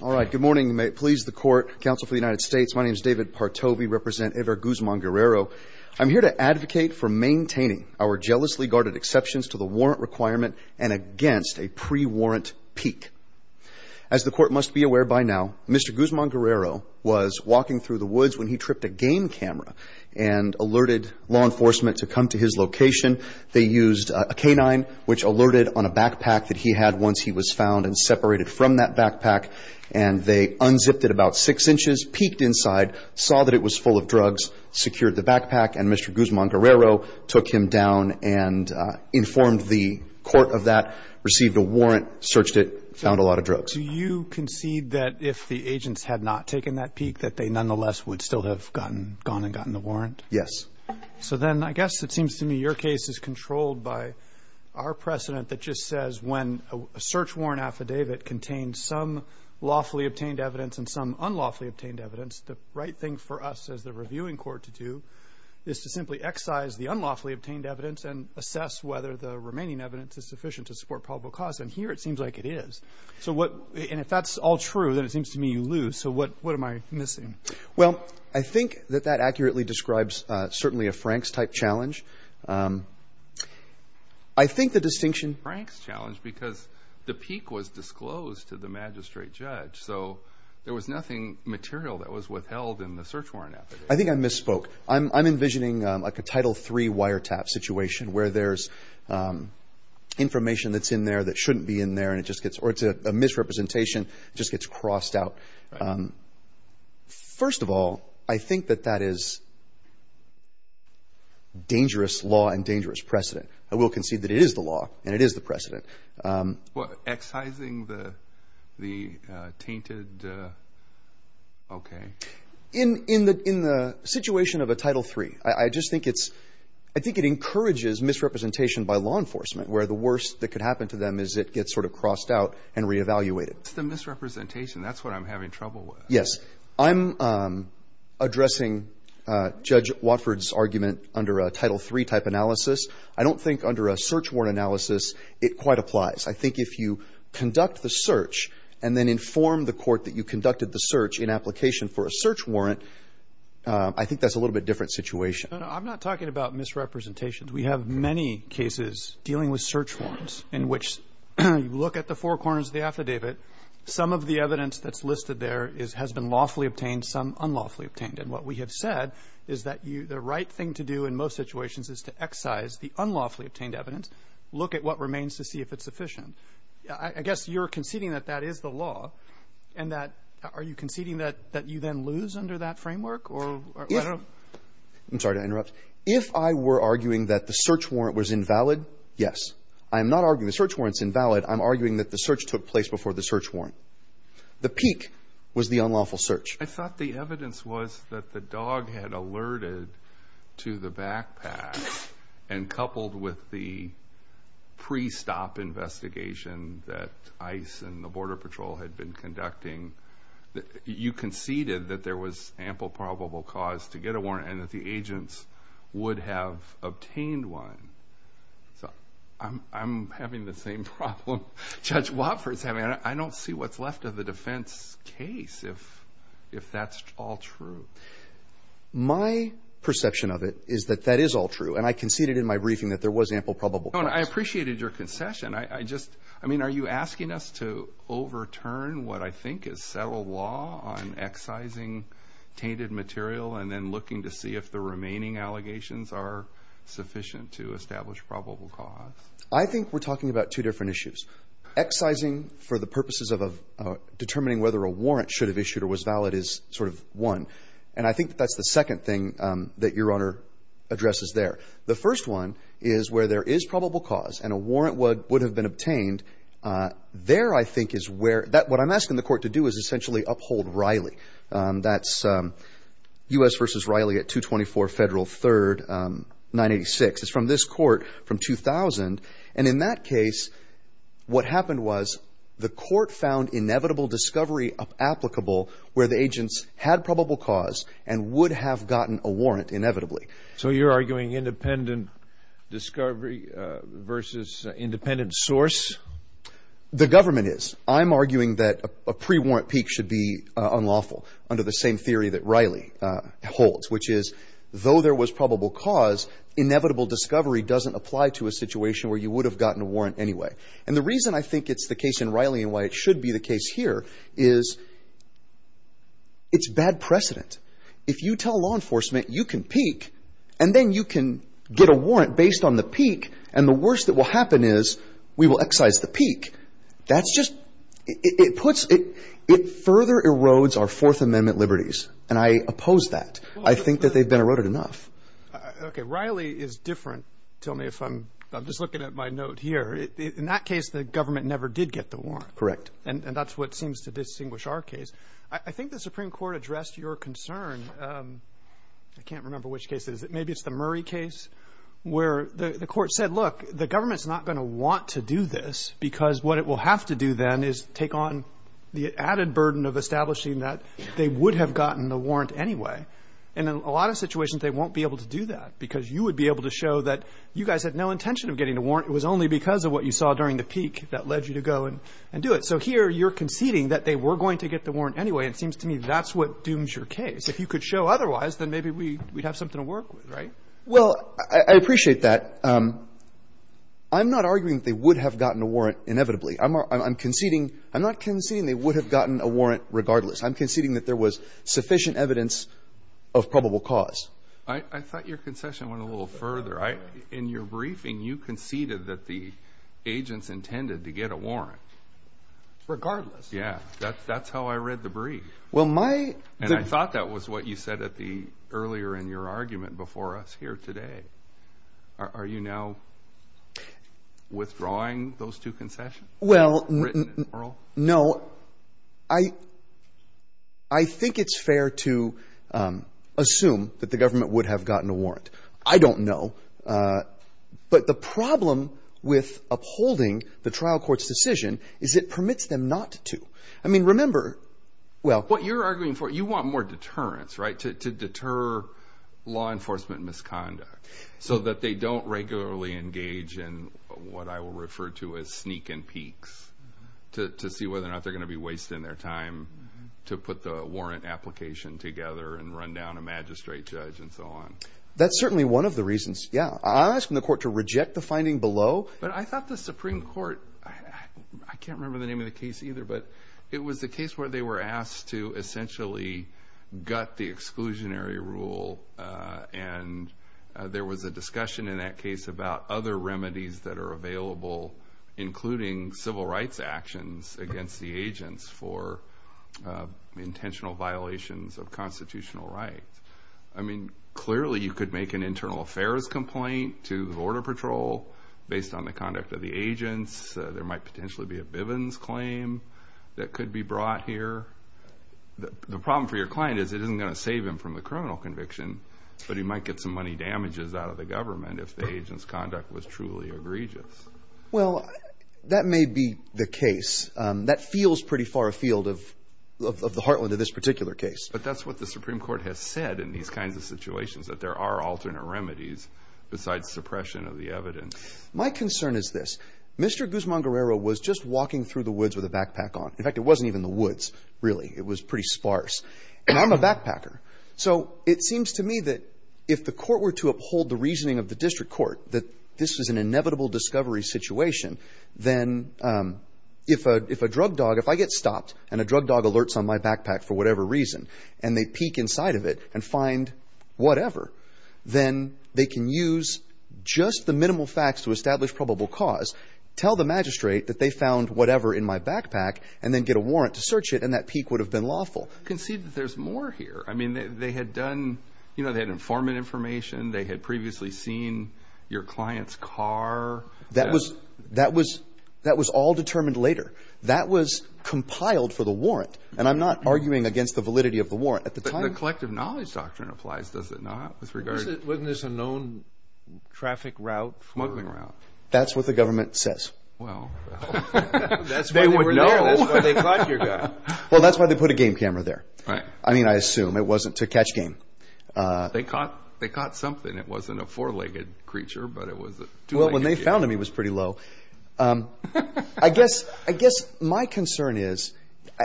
All right, good morning. May it please the court, Council for the United States, my name is David Partow. We represent Hever Guzman-Guerrero. I'm here to advocate for maintaining our jealously guarded exceptions to the warrant requirement and against a pre-warrant peak. As the court must be aware by now, Mr. Guzman-Guerrero was walking through the woods when he tripped a game camera and alerted law enforcement to come to his location. They used a canine, which alerted on a backpack that he had once he was found and separated from that backpack, and they unzipped it about six inches, peeked inside, saw that it was full of drugs, secured the backpack, and Mr. Guzman-Guerrero took him down and informed the court of that, received a warrant, searched it, found a lot of drugs. Do you concede that if the agents had not taken that peek, that they nonetheless would still have gone and gotten the warrant? Yes. So then I guess it seems to me your case is controlled by our precedent that just says when a search warrant affidavit contains some lawfully obtained evidence and some unlawfully obtained evidence, the right thing for us as the reviewing court to do is to simply excise the unlawfully obtained evidence and assess whether the remaining evidence is sufficient to support probable cause, and here it seems like it is. And if that's all true, then it seems to me you lose. So what am I missing? Well, I think that that accurately describes certainly a Franks-type challenge. I think the distinction- Franks challenge because the peek was disclosed to the magistrate judge, so there was nothing material that was withheld in the search warrant affidavit. I think I misspoke. I'm envisioning like a Title III wiretap situation where there's information that's in there that shouldn't be in there, and it just gets or it's a misrepresentation, just gets crossed out. First of all, I think that that is dangerous law and dangerous precedent. I will concede that it is the law and it is the precedent. Well, excising the tainted, okay. In the situation of a Title III, I just think it's ‑‑ I think it encourages misrepresentation by law enforcement where the worst that could happen to them is it gets sort of crossed out and reevaluated. It's the misrepresentation. That's what I'm having trouble with. Yes. I'm addressing Judge Watford's argument under a Title III-type analysis. I don't think under a search warrant analysis it quite applies. I think if you conduct the search and then inform the court that you conducted the search in application for a search warrant, I think that's a little bit different situation. I'm not talking about misrepresentations. We have many cases dealing with search warrants in which you look at the four corners of the affidavit. Some of the evidence that's listed there has been lawfully obtained, some unlawfully obtained. And what we have said is that the right thing to do in most situations is to excise the unlawfully obtained evidence, look at what remains to see if it's sufficient. I guess you're conceding that that is the law and that are you conceding that you then lose under that framework? I'm sorry to interrupt. If I were arguing that the search warrant was invalid, yes. I'm not arguing the search warrant's invalid. I'm arguing that the search took place before the search warrant. The peak was the unlawful search. I thought the evidence was that the dog had alerted to the backpack and coupled with the pre-stop investigation that ICE and the Border Patrol had been conducting, you conceded that there was ample probable cause to get a warrant and that the agents would have obtained one. So I'm having the same problem Judge Watford's having. I don't see what's left of the defense case if that's all true. My perception of it is that that is all true, and I conceded in my briefing that there was ample probable cause. I appreciated your concession. I mean, are you asking us to overturn what I think is settled law on excising tainted material and then looking to see if the remaining allegations are sufficient to establish probable cause? I think we're talking about two different issues. Excising for the purposes of determining whether a warrant should have issued or was valid is sort of one, and I think that that's the second thing that Your Honor addresses there. The first one is where there is probable cause and a warrant would have been obtained. There I think is where what I'm asking the court to do is essentially uphold Riley. That's U.S. v. Riley at 224 Federal 3rd, 986. It's from this court from 2000, and in that case what happened was the court found inevitable discovery applicable where the agents had probable cause and would have gotten a warrant inevitably. So you're arguing independent discovery versus independent source? The government is. I'm arguing that a pre-warrant peak should be unlawful under the same theory that Riley holds, which is though there was probable cause, inevitable discovery doesn't apply to a situation where you would have gotten a warrant anyway. And the reason I think it's the case in Riley and why it should be the case here is it's bad precedent. If you tell law enforcement you can peak and then you can get a warrant based on the peak and the worst that will happen is we will excise the peak. That's just – it puts – it further erodes our Fourth Amendment liberties, and I oppose that. I think that they've been eroded enough. Okay. Riley is different. Tell me if I'm – I'm just looking at my note here. In that case, the government never did get the warrant. Correct. And that's what seems to distinguish our case. I think the Supreme Court addressed your concern. I can't remember which case it is. Maybe it's the Murray case where the court said, look, the government's not going to want to do this because what it will have to do then is take on the added burden of establishing that they would have gotten the warrant anyway. And in a lot of situations, they won't be able to do that because you would be able to show that you guys had no intention of getting a warrant. It was only because of what you saw during the peak that led you to go and do it. And so here, you're conceding that they were going to get the warrant anyway. It seems to me that's what dooms your case. If you could show otherwise, then maybe we'd have something to work with, right? Well, I appreciate that. I'm not arguing that they would have gotten a warrant inevitably. I'm conceding – I'm not conceding they would have gotten a warrant regardless. I'm conceding that there was sufficient evidence of probable cause. I thought your concession went a little further. In your briefing, you conceded that the agents intended to get a warrant. Regardless. Yeah, that's how I read the brief. Well, my – And I thought that was what you said earlier in your argument before us here today. Are you now withdrawing those two concessions? Well, no. I think it's fair to assume that the government would have gotten a warrant. I don't know. But the problem with upholding the trial court's decision is it permits them not to. I mean, remember, well— What you're arguing for, you want more deterrence, right, to deter law enforcement misconduct so that they don't regularly engage in what I will refer to as sneak and peeks to see whether or not they're going to be wasting their time to put the warrant application together and run down a magistrate judge and so on. That's certainly one of the reasons, yeah. I'm asking the court to reject the finding below. But I thought the Supreme Court – I can't remember the name of the case either, but it was the case where they were asked to essentially gut the exclusionary rule. And there was a discussion in that case about other remedies that are available, including civil rights actions against the agents for intentional violations of constitutional rights. I mean, clearly you could make an internal affairs complaint to the Border Patrol based on the conduct of the agents. There might potentially be a Bivens claim that could be brought here. The problem for your client is it isn't going to save him from the criminal conviction, but he might get some money damages out of the government if the agent's conduct was truly egregious. Well, that may be the case. That feels pretty far afield of the heartland of this particular case. But that's what the Supreme Court has said in these kinds of situations, that there are alternate remedies besides suppression of the evidence. My concern is this. Mr. Guzman-Guerrero was just walking through the woods with a backpack on. In fact, it wasn't even the woods, really. It was pretty sparse. And I'm a backpacker. So it seems to me that if the court were to uphold the reasoning of the district court that this was an inevitable discovery situation, then if a drug dog – and they peek inside of it and find whatever, then they can use just the minimal facts to establish probable cause, tell the magistrate that they found whatever in my backpack, and then get a warrant to search it, and that peek would have been lawful. Concede that there's more here. I mean, they had done – you know, they had informant information. They had previously seen your client's car. That was all determined later. That was compiled for the warrant. And I'm not arguing against the validity of the warrant. But the collective knowledge doctrine applies, does it not, with regard to – Wasn't this a known traffic route for – Smuggling route. That's what the government says. Well, that's why they were there. That's why they caught your guy. Well, that's why they put a game camera there. I mean, I assume it wasn't to catch game. It wasn't a four-legged creature, but it was a two-legged creature. Well, when they found him, he was pretty low. I guess my concern is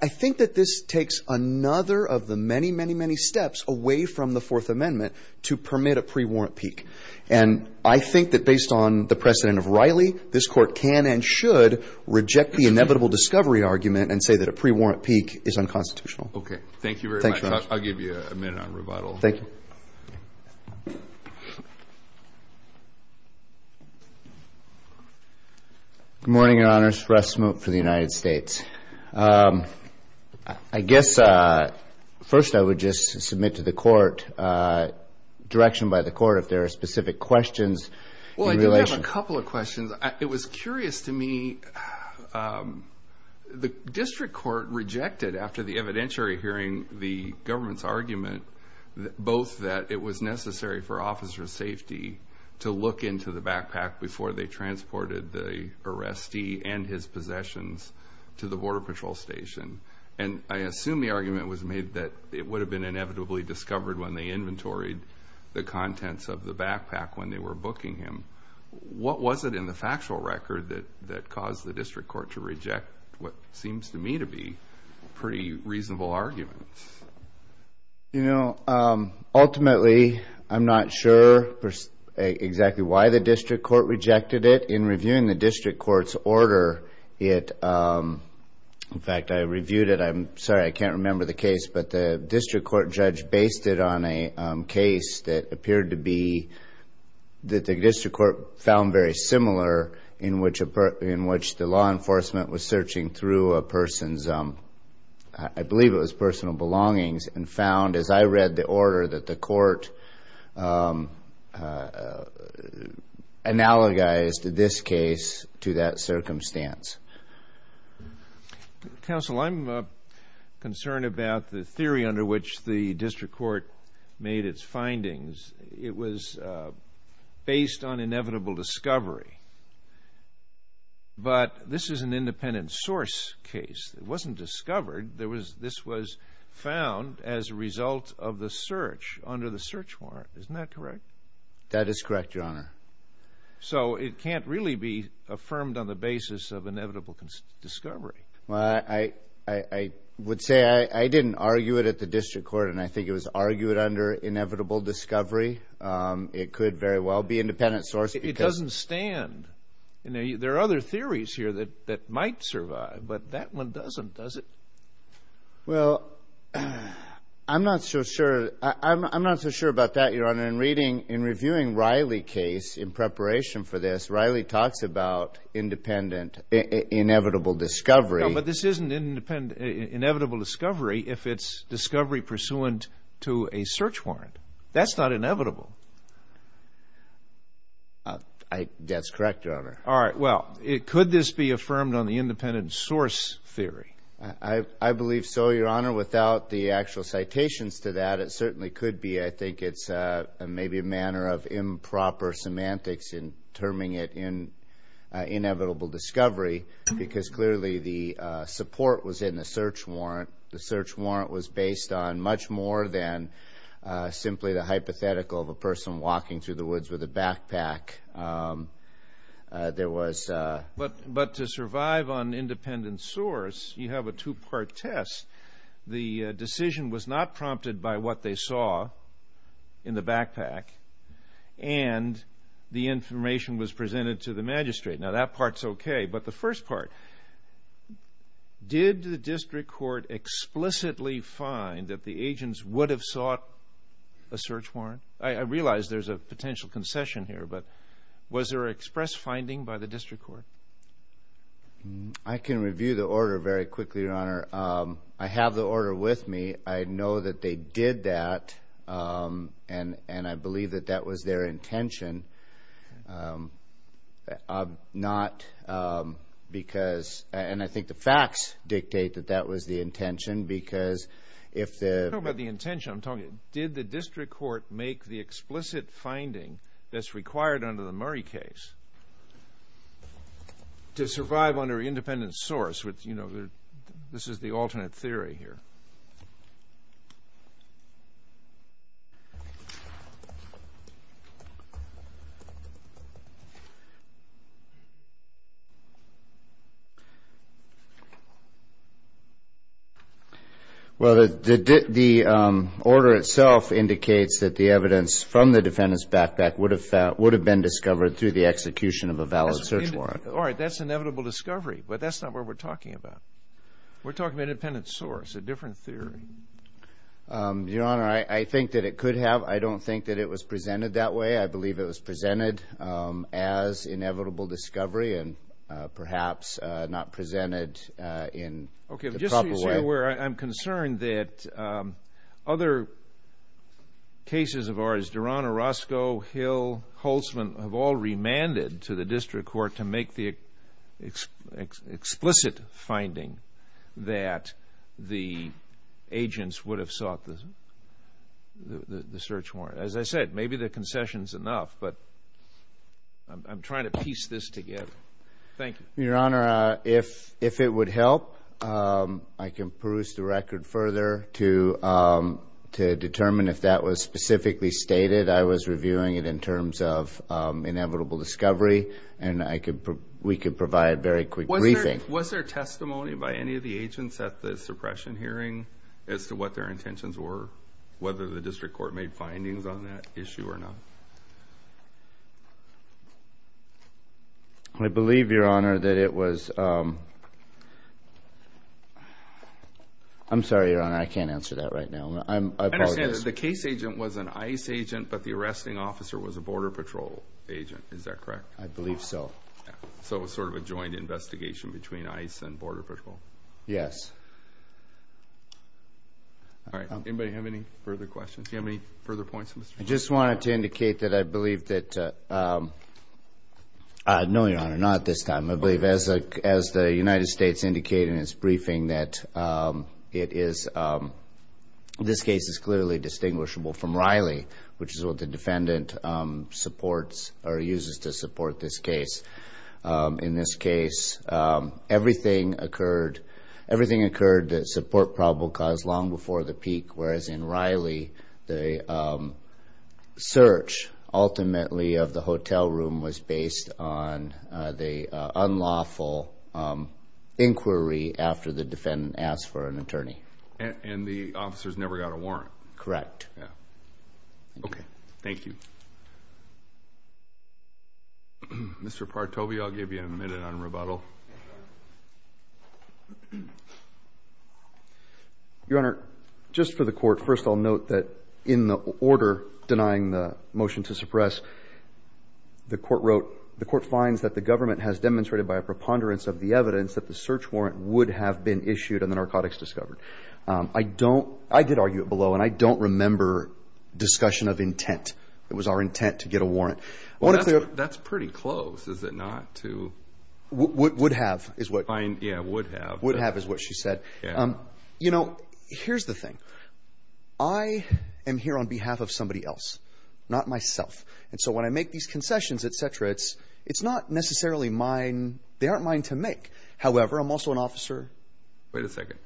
I think that this takes another of the many, many, many steps away from the Fourth Amendment to permit a pre-warrant peek. And I think that based on the precedent of Riley, this Court can and should reject the inevitable discovery argument and say that a pre-warrant peek is unconstitutional. Okay. Thank you very much. I'll give you a minute on rebuttal. Thank you. Good morning, Your Honors. Russ Smoat for the United States. I guess first I would just submit to the Court direction by the Court if there are specific questions in relation – Well, I do have a couple of questions. It was curious to me, the District Court rejected after the evidentiary hearing to look into the backpack before they transported the arrestee and his possessions to the Border Patrol Station. And I assume the argument was made that it would have been inevitably discovered when they inventoried the contents of the backpack when they were booking him. What was it in the factual record that caused the District Court to reject what seems to me to be pretty reasonable arguments? You know, ultimately, I'm not sure exactly why the District Court rejected it. In reviewing the District Court's order, in fact, I reviewed it. I'm sorry, I can't remember the case. But the District Court judge based it on a case that appeared to be – that the District Court found very similar in which the law enforcement was searching through a person's – I believe it was personal belongings and found, as I read the order, that the Court analogized this case to that circumstance. Counsel, I'm concerned about the theory under which the District Court made its findings. It was based on inevitable discovery. But this is an independent source case. It wasn't discovered. This was found as a result of the search under the search warrant. Isn't that correct? That is correct, Your Honor. So it can't really be affirmed on the basis of inevitable discovery. Well, I would say I didn't argue it at the District Court, and I think it was argued under inevitable discovery. It could very well be independent source because – It doesn't stand. There are other theories here that might survive, but that one doesn't, does it? Well, I'm not so sure about that, Your Honor. In reviewing Riley case in preparation for this, Riley talks about independent inevitable discovery. No, but this isn't inevitable discovery if it's discovery pursuant to a search warrant. That's not inevitable. That's correct, Your Honor. All right. Well, could this be affirmed on the independent source theory? I believe so, Your Honor. Without the actual citations to that, it certainly could be. I think it's maybe a manner of improper semantics in terming it inevitable discovery because clearly the support was in the search warrant. The search warrant was based on much more than simply the hypothetical of a person walking through the woods with a backpack. There was a – But to survive on independent source, you have a two-part test. The decision was not prompted by what they saw in the backpack, and the information was presented to the magistrate. Now, that part's okay, but the first part, did the district court explicitly find that the agents would have sought a search warrant? I realize there's a potential concession here, but was there an express finding by the district court? I can review the order very quickly, Your Honor. I have the order with me. I know that they did that, and I believe that that was their intention, and I'm not because – and I think the facts dictate that that was the intention because if the – It's not about the intention I'm talking about. Did the district court make the explicit finding that's required under the Murray case to survive under independent source? You know, this is the alternate theory here. Well, the order itself indicates that the evidence from the defendant's backpack would have been discovered through the execution of a valid search warrant. All right, that's inevitable discovery, but that's not what we're talking about. We're talking about independent source, a different theory. Your Honor, I think that it could have. I don't think that it was presented that way. I believe it was presented as inevitable discovery and perhaps not presented in the proper way. Okay, just so you're aware, I'm concerned that other cases of ours, Durano, Roscoe, Hill, Holtzman, have all remanded to the district court to make the explicit finding that the agents would have sought the search warrant. As I said, maybe the concession's enough, but I'm trying to piece this together. Thank you. Your Honor, if it would help, I can peruse the record further to determine if that was specifically stated. I was reviewing it in terms of inevitable discovery, and we could provide a very quick briefing. Was there testimony by any of the agents at the suppression hearing as to what their intentions were, whether the district court made findings on that issue or not? I believe, Your Honor, that it was – I'm sorry, Your Honor, I can't answer that right now. I apologize. I understand that the case agent was an ICE agent, but the arresting officer was a Border Patrol agent. Is that correct? I believe so. So it was sort of a joint investigation between ICE and Border Patrol? Yes. All right. Anybody have any further questions? Do you have any further points? I just wanted to indicate that I believe that – no, Your Honor, not at this time. I believe as the United States indicated in its briefing that it is – this case is clearly distinguishable from Riley, which is what the defendant supports or uses to support this case. In this case, everything occurred that support probable cause long before the peak, whereas in Riley the search ultimately of the hotel room was based on the unlawful inquiry after the defendant asked for an attorney. And the officers never got a warrant? Correct. Okay. Thank you. Mr. Partovi, I'll give you a minute on rebuttal. Your Honor, just for the court, first I'll note that in the order denying the motion to suppress, the court wrote, the court finds that the government has demonstrated by a preponderance of the evidence that the search warrant would have been issued and the narcotics discovered. I don't – I did argue it below, and I don't remember discussion of intent. It was our intent to get a warrant. Would have is what? Yeah, would have. Would have is what she said. Yeah. You know, here's the thing. I am here on behalf of somebody else, not myself. And so when I make these concessions, et cetera, it's not necessarily mine – they aren't mine to make. However, I'm also an officer. Wait a second.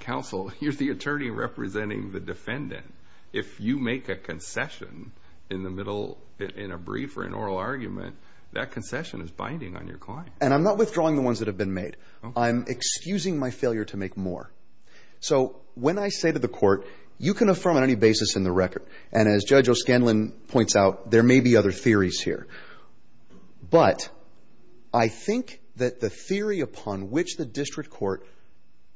Counsel, you're the attorney representing the defendant. If you make a concession in the middle – in a brief or an oral argument, that concession is binding on your client. And I'm not withdrawing the ones that have been made. I'm excusing my failure to make more. So when I say to the court, you can affirm on any basis in the record, and as Judge O'Scanlan points out, there may be other theories here. But I think that the theory upon which the district court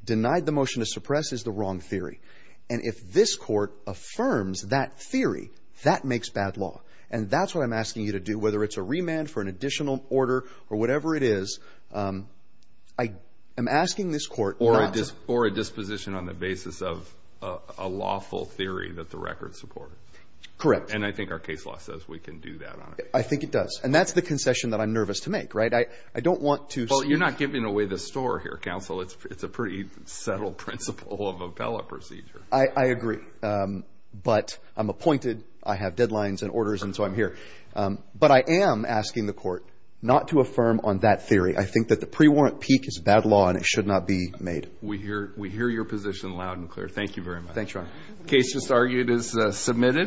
denied the motion to suppress is the wrong theory. And if this court affirms that theory, that makes bad law. And that's what I'm asking you to do, whether it's a remand for an additional order or whatever it is. I am asking this court not to – Or a disposition on the basis of a lawful theory that the record supports. Correct. And I think our case law says we can do that on it. I think it does. And that's the concession that I'm nervous to make, right? I don't want to – Well, you're not giving away the store here, counsel. It's a pretty subtle principle of appellate procedure. I agree. But I'm appointed. I have deadlines and orders, and so I'm here. But I am asking the court not to affirm on that theory. I think that the pre-warrant peak is bad law, and it should not be made. We hear your position loud and clear. Thank you very much. Thanks, Ron. Case just argued is submitted.